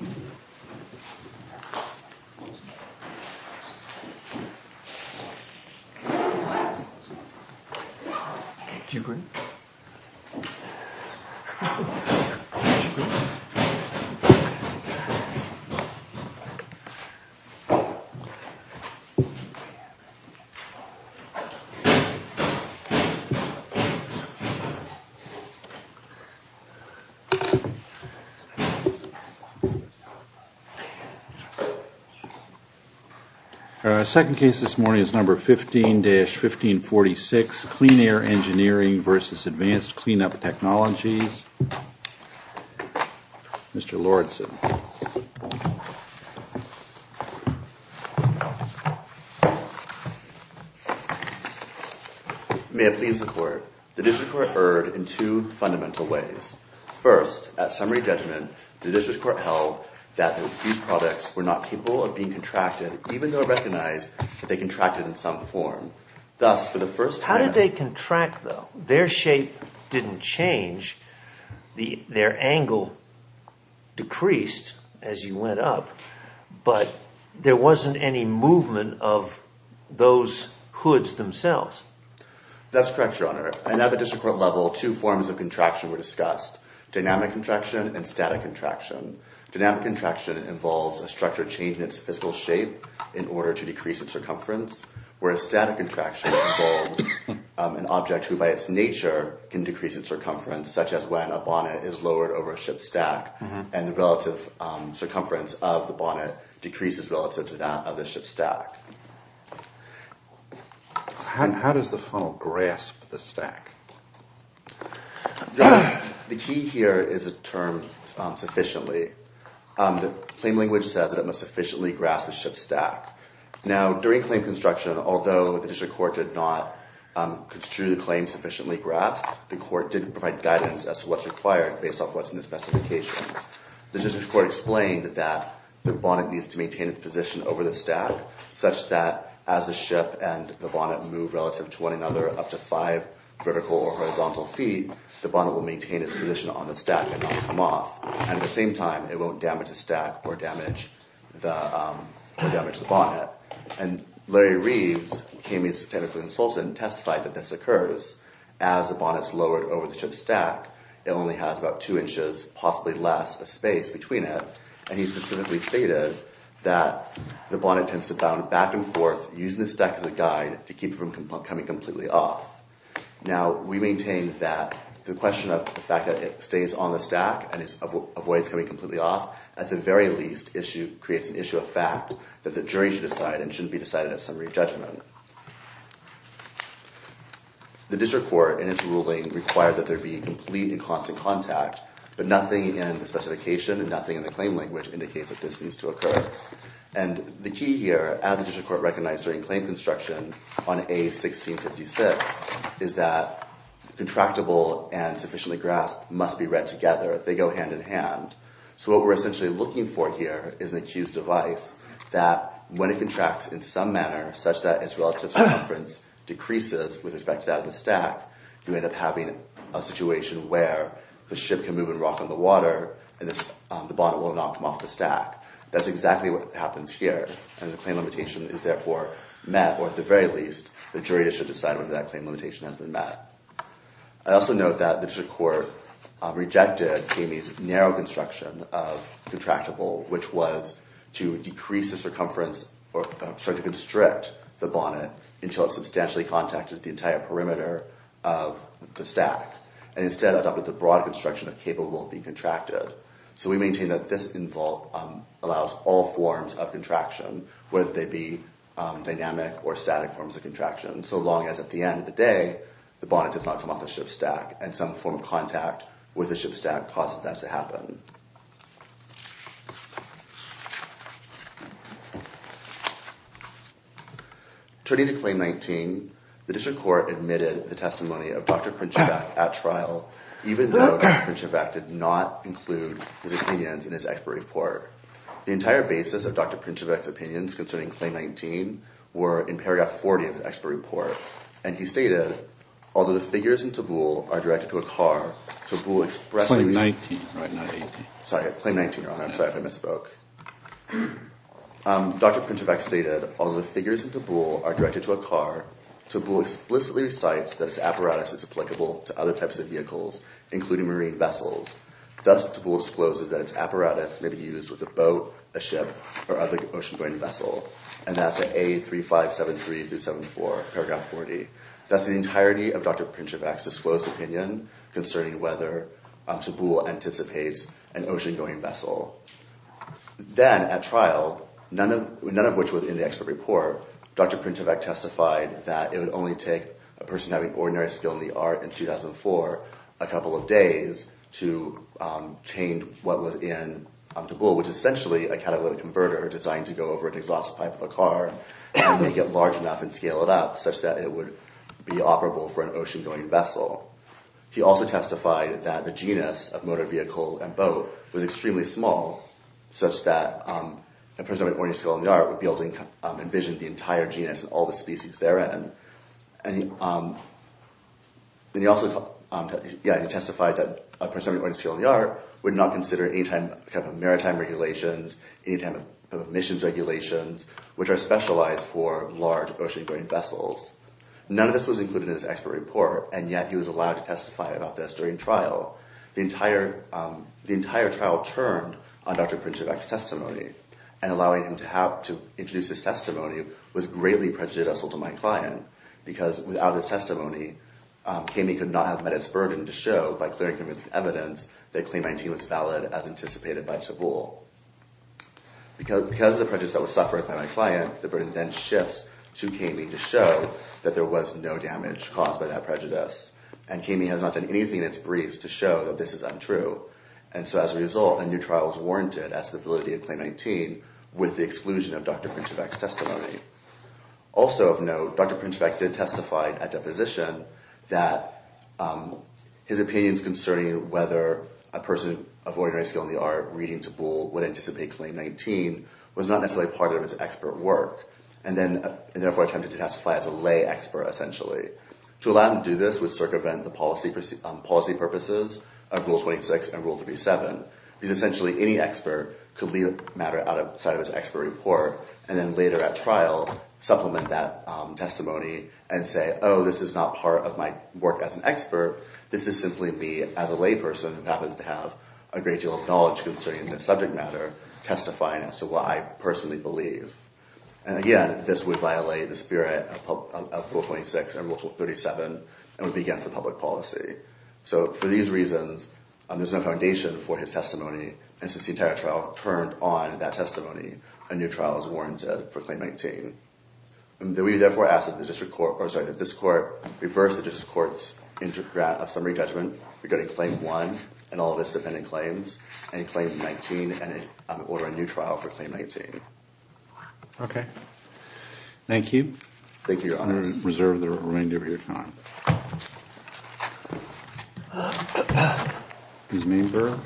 Thank you. Thank you. The second case this morning is number 15-1546, Clean Air Engineering versus Advanced Clean-up Technologies. This is Mr. Lawrenson. May it please the court, the district court erred in two fundamental ways. First, at summary judgment, the district court held that these products were not capable of being contracted, even though it recognized that they contracted in some form. Thus, for the first time... How did they contract though? Their shape didn't change. Their angle decreased as you went up, but there wasn't any movement of those hoods themselves. That's correct, Your Honor. And at the district court level, two forms of contraction were discussed, dynamic contraction and static contraction. Dynamic contraction involves a structure change in its physical shape in order to decrease its circumference, whereas static contraction involves an object who by its nature can decrease its circumference, such as when a bonnet is lowered over a ship's stack and the relative circumference of the bonnet decreases relative to that of the ship's stack. How does the funnel grasp the stack? The key here is a term, sufficiently. The claim language says that it must sufficiently grasp the ship's stack. Now during claim construction, although the district court did not construe the claim sufficiently grasped, the court did provide guidance as to what's required based off what's in the specification. The district court explained that the bonnet needs to maintain its position over the stack such that as the ship and the bonnet move relative to one another up to five vertical or horizontal feet, the bonnet will maintain its position on the stack and not come off. And at the same time, it won't damage the stack or damage the bonnet. And Larry Reeves, KME's technical consultant, testified that this occurs as the bonnet's lowered over the ship's stack, it only has about two inches, possibly less, of space between it. And he specifically stated that the bonnet tends to bound back and forth, using the stack as a guide to keep it from coming completely off. Now we maintain that the question of the fact that it stays on the stack and avoids coming completely off, at the very least, creates an issue of fact that the jury should decide and shouldn't be decided at summary judgment. The district court in its ruling required that there be complete and constant contact, but nothing in the specification and nothing in the claim language indicates that this needs to occur. And the key here, as the district court recognized during claim construction on A1656, is that contractible and sufficiently grasped must be read together, they go hand in hand. So what we're essentially looking for here is an accused device that, when it contracts in some manner, such that its relative circumference decreases with respect to that of the stack, you end up having a situation where the ship can move and rock on the water and the bonnet will not come off the stack. That's exactly what happens here. And the claim limitation is therefore met, or at the very least, the jury should decide whether that claim limitation has been met. I also note that the district court rejected Kamey's narrow construction of contractible, which was to decrease the circumference or start to constrict the bonnet until it substantially contacted the entire perimeter of the stack, and instead adopted the broad construction of capable of being contracted. So we maintain that this involve allows all forms of contraction, whether they be dynamic or static forms of contraction, so long as at the end of the day, the bonnet does not come off the ship stack, and some form of contact with the ship stack causes that to happen. Turning to claim 19, the district court admitted the testimony of Dr. Pritchett-Vack at trial, even though Dr. Pritchett-Vack did not include his opinions in his expert report. The entire basis of Dr. Pritchett-Vack's opinions concerning claim 19 were in paragraph 40 of the expert report, and he stated, although the figures in Tabool are directed to a car, Tabool expressly- Claim 19, not 18. Sorry. Claim 19, Your Honor. I'm sorry if I misspoke. Dr. Pritchett-Vack stated, although the figures in Tabool are directed to a car, Tabool explicitly recites that its apparatus is applicable to other types of vehicles, including marine vessels. Thus, Tabool discloses that its apparatus may be used with a boat, a ship, or other ocean-going vessel, and that's at A3573-74, paragraph 40. That's the entirety of Dr. Pritchett-Vack's disclosed opinion concerning whether Tabool anticipates an ocean-going vessel. Then at trial, none of which was in the expert report, Dr. Pritchett-Vack testified that it would only take a person having ordinary skill in the art in 2004 a couple of days to change what was in Tabool, which is essentially a catalytic converter designed to go over an exhaust pipe of a car and make it large enough and scale it up such that it would be operable for an ocean-going vessel. He also testified that the genus of motor vehicle and boat was extremely small, such that a person with ordinary skill in the art would be able to envision the entire genus and all the species therein. And he also testified that a person with ordinary skill in the art would not consider any type of maritime regulations, any type of missions regulations, which are specialized for large ocean-going vessels. None of this was included in his expert report, and yet he was allowed to testify about this during trial. The entire trial turned on Dr. Pritchett-Vack's testimony, and allowing him to introduce his prejudice to my client, because without his testimony, Kamey could not have met his burden to show by clear and convincing evidence that Claim 19 was valid as anticipated by Tabool. Because of the prejudice that was suffered by my client, the burden then shifts to Kamey to show that there was no damage caused by that prejudice. And Kamey has not done anything in its briefs to show that this is untrue. And so as a result, a new trial is warranted as to the validity of Claim 19 with the exclusion of Dr. Pritchett-Vack's testimony. Also of note, Dr. Pritchett-Vack did testify at deposition that his opinions concerning whether a person of ordinary skill in the art reading Tabool would anticipate Claim 19 was not necessarily part of his expert work, and therefore attempted to testify as a lay expert, essentially. To allow him to do this would circumvent the policy purposes of Rule 26 and Rule 37, because essentially any expert could leave the matter outside of his expert report, and then later at trial supplement that testimony and say, oh, this is not part of my work as an expert. This is simply me as a lay person who happens to have a great deal of knowledge concerning this subject matter, testifying as to what I personally believe. And again, this would violate the spirit of Rule 26 and Rule 37, and would be against the public policy. So for these reasons, there's no foundation for his testimony, and since the entire trial turned on that testimony, a new trial is warranted for Claim 19. We therefore ask that this court reverse the district court's summary judgment regarding Claim 1 and all of its dependent claims, and Claim 19, and order a new trial for Claim 19. Thank you. Thank you, Your Honors. I'm going to reserve the remainder of your time. Ms. Mienberg?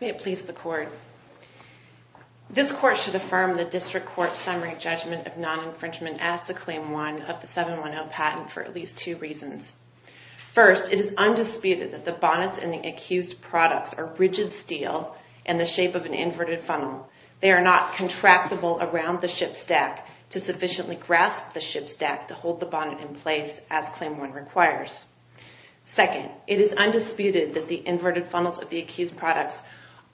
May it please the Court, this Court should affirm the district court's summary judgment of non-infringement as to Claim 1 of the 710 patent for at least two reasons. First, it is undisputed that the bonnets and the accused products are rigid steel in the shape of an inverted funnel. They are not contractible around the ship stack to sufficiently grasp the ship stack to hold the bonnet in place as Claim 1 requires. Second, it is undisputed that the inverted funnels of the accused products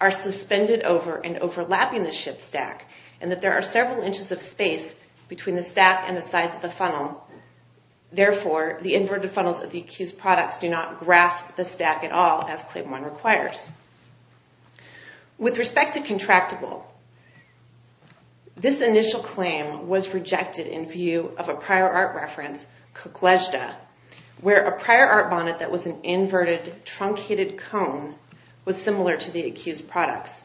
are suspended over and overlapping the ship stack, and that there are several inches of space between the stack and the sides of the funnel, therefore, the inverted funnels of the accused products do not grasp the stack at all as Claim 1 requires. With respect to contractible, this initial claim was rejected in view of a prior art reference, Kuklejda, where a prior art bonnet that was an inverted truncated cone was similar to the accused products.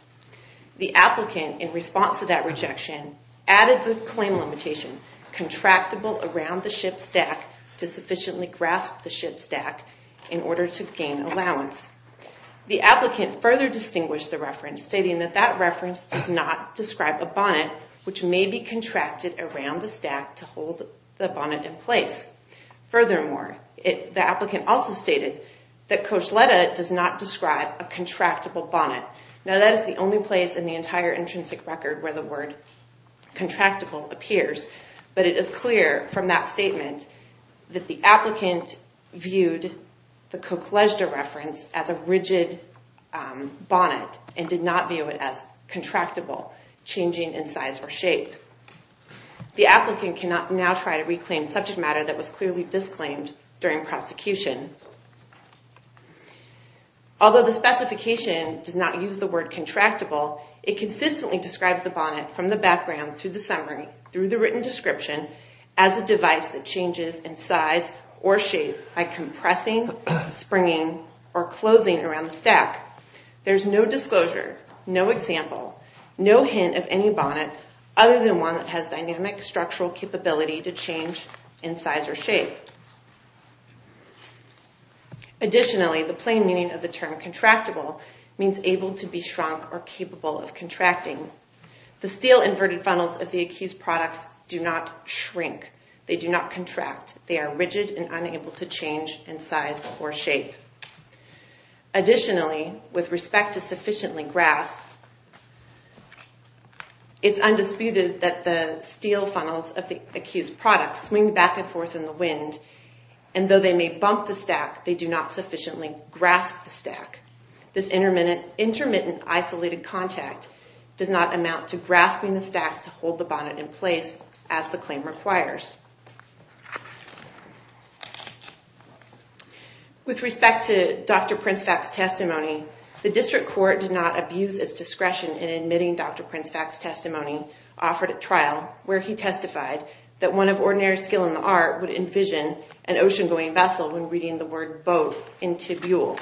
The applicant, in response to that rejection, added the claim limitation, contractible around the ship stack to sufficiently grasp the ship stack in order to gain allowance. The applicant further distinguished the reference, stating that that reference does not describe a bonnet which may be contracted around the stack to hold the bonnet in place. Furthermore, the applicant also stated that Košleta does not describe a contractible bonnet. Now, that is the only place in the entire intrinsic record where the word contractible appears, but it is clear from that statement that the applicant viewed the Kuklejda reference as a rigid bonnet and did not view it as contractible, changing in size or shape. The applicant can now try to reclaim subject matter that was clearly disclaimed during prosecution. Although the specification does not use the word contractible, it consistently describes the bonnet from the background through the summary, through the written description, as a device that changes in size or shape by compressing, springing, or closing around the stack. There is no disclosure, no example, no hint of any bonnet other than one that has dynamic structural capability to change in size or shape. Additionally, the plain meaning of the term contractible means able to be shrunk or capable of contracting. The steel inverted funnels of the accused products do not shrink. They do not contract. They are rigid and unable to change in size or shape. Additionally, with respect to sufficiently grasp, it's undisputed that the steel funnels of the accused products swing back and forth in the wind, and though they may bump the stack, they do not sufficiently grasp the stack. This intermittent isolated contact does not amount to grasping the stack to hold the bonnet in place as the claim requires. With respect to Dr. Prince-Fact's testimony, the district court did not abuse its discretion in admitting Dr. Prince-Fact's testimony offered at trial, where he testified that one of ordinary skill in the art would envision an ocean-going vessel when reading the word boat in tibule.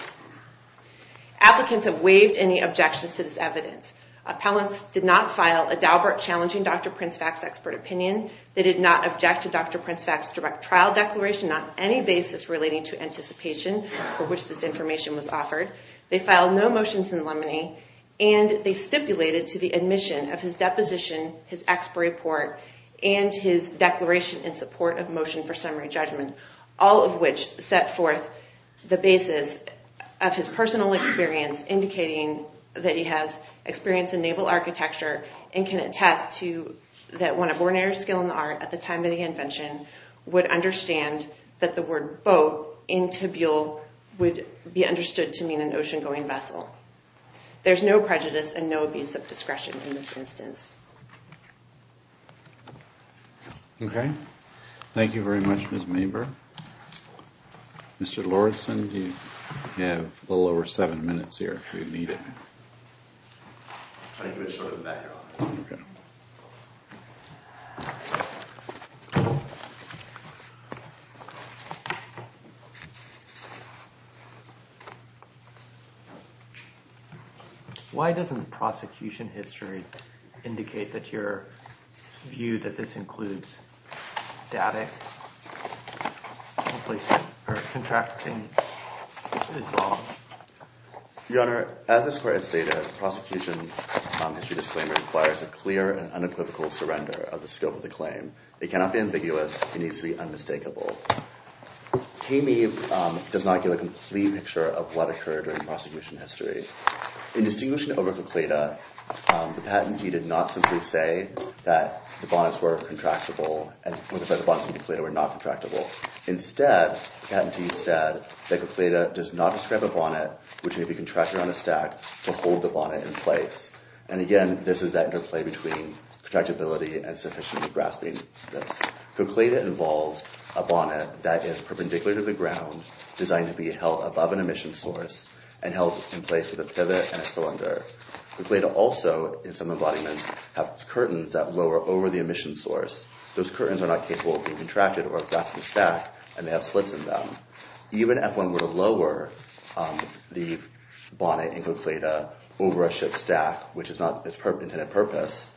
Applicants have waived any objections to this evidence. Appellants did not file a daubert challenging Dr. Prince-Fact's expert opinion. They did not object to Dr. Prince-Fact's direct trial declaration on any basis relating to anticipation for which this information was offered. They filed no motions in limine, and they stipulated to the admission of his deposition, his expert report, and his declaration in support of motion for summary judgment, all of which set forth the basis of his personal experience indicating that he has experience in naval architecture and can attest to that one of ordinary skill in the art at the time of the invention would understand that the word boat in tibule would be understood to mean an ocean-going vessel. There's no prejudice and no abuse of discretion in this instance. Okay. Thank you very much, Ms. Maber. Mr. Lordson, you have a little over seven minutes here if you need it. I'll try to do it shorter than that, Your Honor. Okay. Why doesn't the prosecution history indicate that your view that this includes static, or contracting? Your Honor, as this court has stated, the prosecution history disclaimer requires a clear and unequivocal surrender of the scope of the claim. It cannot be ambiguous. It needs to be unmistakable. Cayme does not give a complete picture of what occurred during the prosecution history. In distinguishing over Coquitla, the patentee did not simply say that the bonnets were contractible, and that the bonnets in Coquitla were not contractible. Instead, the patentee said that Coquitla does not describe a bonnet which may be contracted on a stack to hold the bonnet in place. And again, this is that interplay between contractibility and sufficient grasping. Coquitla involves a bonnet that is perpendicular to the ground, designed to be held above an emission source, and held in place with a pivot and a cylinder. Coquitla also, in some embodiments, has curtains that lower over the emission source. Those curtains are not capable of being contracted over a grasping stack, and they have slits in them. Even if one were to lower the bonnet in Coquitla over a ship's stack, which is not its intended purpose,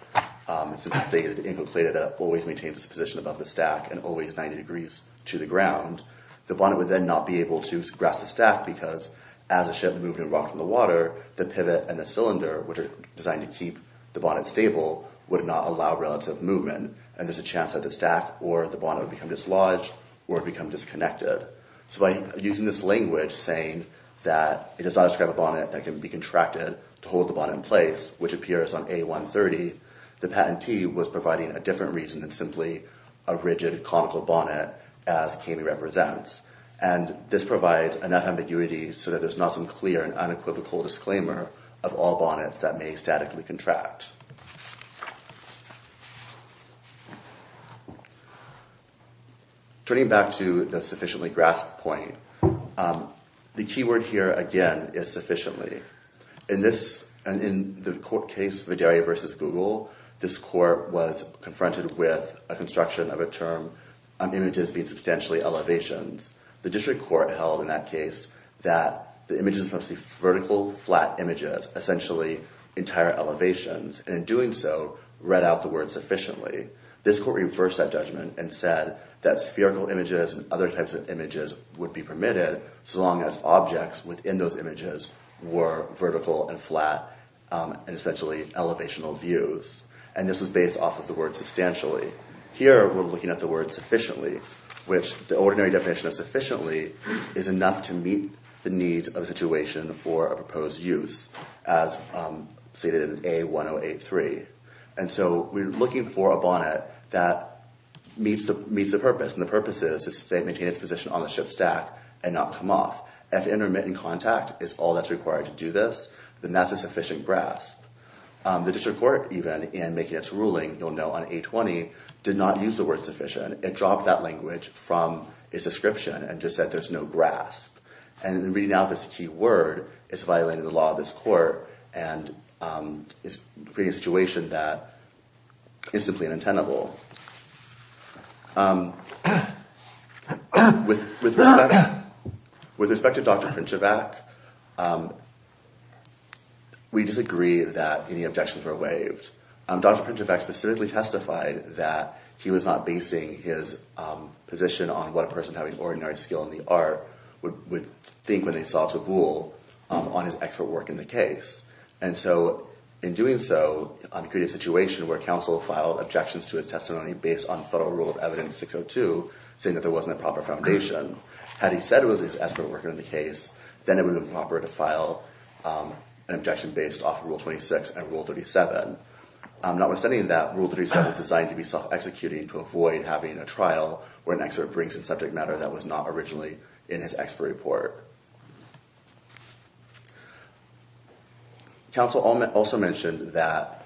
since it's stated in Coquitla that it always maintains its position above the stack and always 90 degrees to the ground, the bonnet would then not be able to grasp the stack because, as the ship moved and rocked in the water, the pivot and the cylinder, which are designed to keep the bonnet stable, would not allow relative movement, and there's a chance that the stack or the bonnet would become dislodged or become disconnected. So by using this language, saying that it does not describe a bonnet that can be contracted to hold the bonnet in place, which appears on A-130, the patentee was providing a different reason than simply a rigid, conical bonnet as Cayley represents. And this provides enough ambiguity so that there's not some clear and unequivocal disclaimer of all bonnets that may statically contract. Turning back to the sufficiently grasped point, the key word here, again, is sufficiently. In the court case Vidalia v. Google, this court was confronted with a construction of a term, images being substantially elevations. The district court held in that case that the images are supposed to be vertical, flat images, essentially entire elevations, and in doing so, read out the word sufficiently. This court reversed that judgment and said that spherical images and other types of images would be permitted so long as objects within those images were vertical and flat and essentially elevational views, and this was based off of the word substantially. Here, we're looking at the word sufficiently, which the ordinary definition of sufficiently is enough to meet the needs of the situation for a proposed use, as stated in A-1083. And so we're looking for a bonnet that meets the purpose, and the purpose is to maintain its position on the ship stack and not come off. If intermittent contact is all that's required to do this, then that's a sufficient grasp. The district court, even, in making its ruling, you'll know, on A-20, did not use the word sufficient. It dropped that language from its description and just said there's no grasp. And in reading out this key word, it's violating the law of this court and is creating a situation that is simply unintentable. With respect to Dr. Pinchevac, we disagree that any objections were waived. Dr. Pinchevac specifically testified that he was not basing his position on what a person having ordinary skill in the art would think when they saw taboo on his expert work in the case. And so, in doing so, he created a situation where counsel filed objections to his testimony based on federal rule of evidence 602, saying that there wasn't a proper foundation. Had he said it was his expert work in the case, then it would have been proper to file an objection based off rule 26 and rule 37. Notwithstanding that, rule 37 is designed to be self-executing to avoid having a trial where an expert brings in subject matter that was not originally in his expert report. Counsel also mentioned that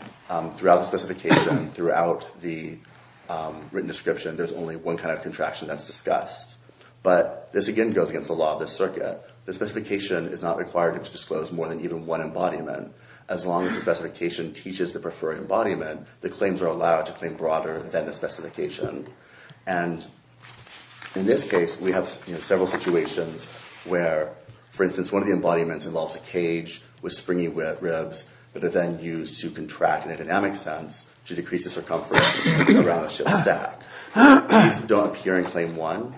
throughout the specification, throughout the written description, there's only one kind of contraction that's discussed. But this, again, goes against the law of this circuit. The specification is not required to disclose more than even one embodiment. As long as the specification teaches the preferring embodiment, the claims are allowed to claim broader than the specification. And in this case, we have several situations where, for instance, one of the embodiments involves a cage with springy ribs that are then used to contract in a dynamic sense to decrease the circumference around the ship's stack. These don't appear in Claim 1,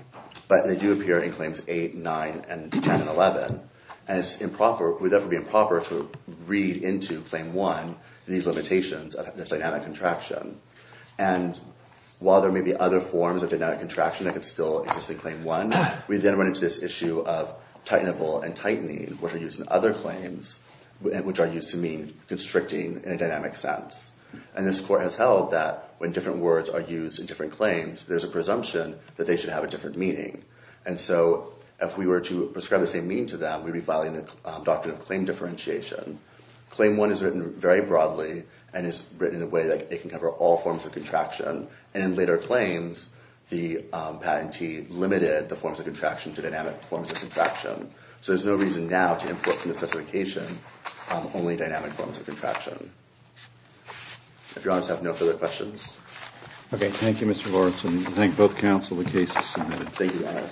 but they do appear in Claims 8, 9, and 10, and 11. And it would therefore be improper to read into Claim 1 these limitations of this dynamic contraction. And while there may be other forms of dynamic contraction that could still exist in Claim 1, we then run into this issue of tightenable and tightening, which are used in other claims, which are used to mean constricting in a dynamic sense. And this court has held that when different words are used in different claims, there's a presumption that they should have a different meaning. And so if we were to prescribe the same meaning to them, we'd be filing the doctrine of claim differentiation. Claim 1 is written very broadly and is written in a way that it can cover all forms of contraction. And in later claims, the patentee limited the forms of contraction to dynamic forms of contraction. So there's no reason now to import from the specification only dynamic forms of contraction. If Your Honor, I have no further questions. Okay. Thank you, Mr. Lawrence. And we thank both counsel. Thank you, Your Honor.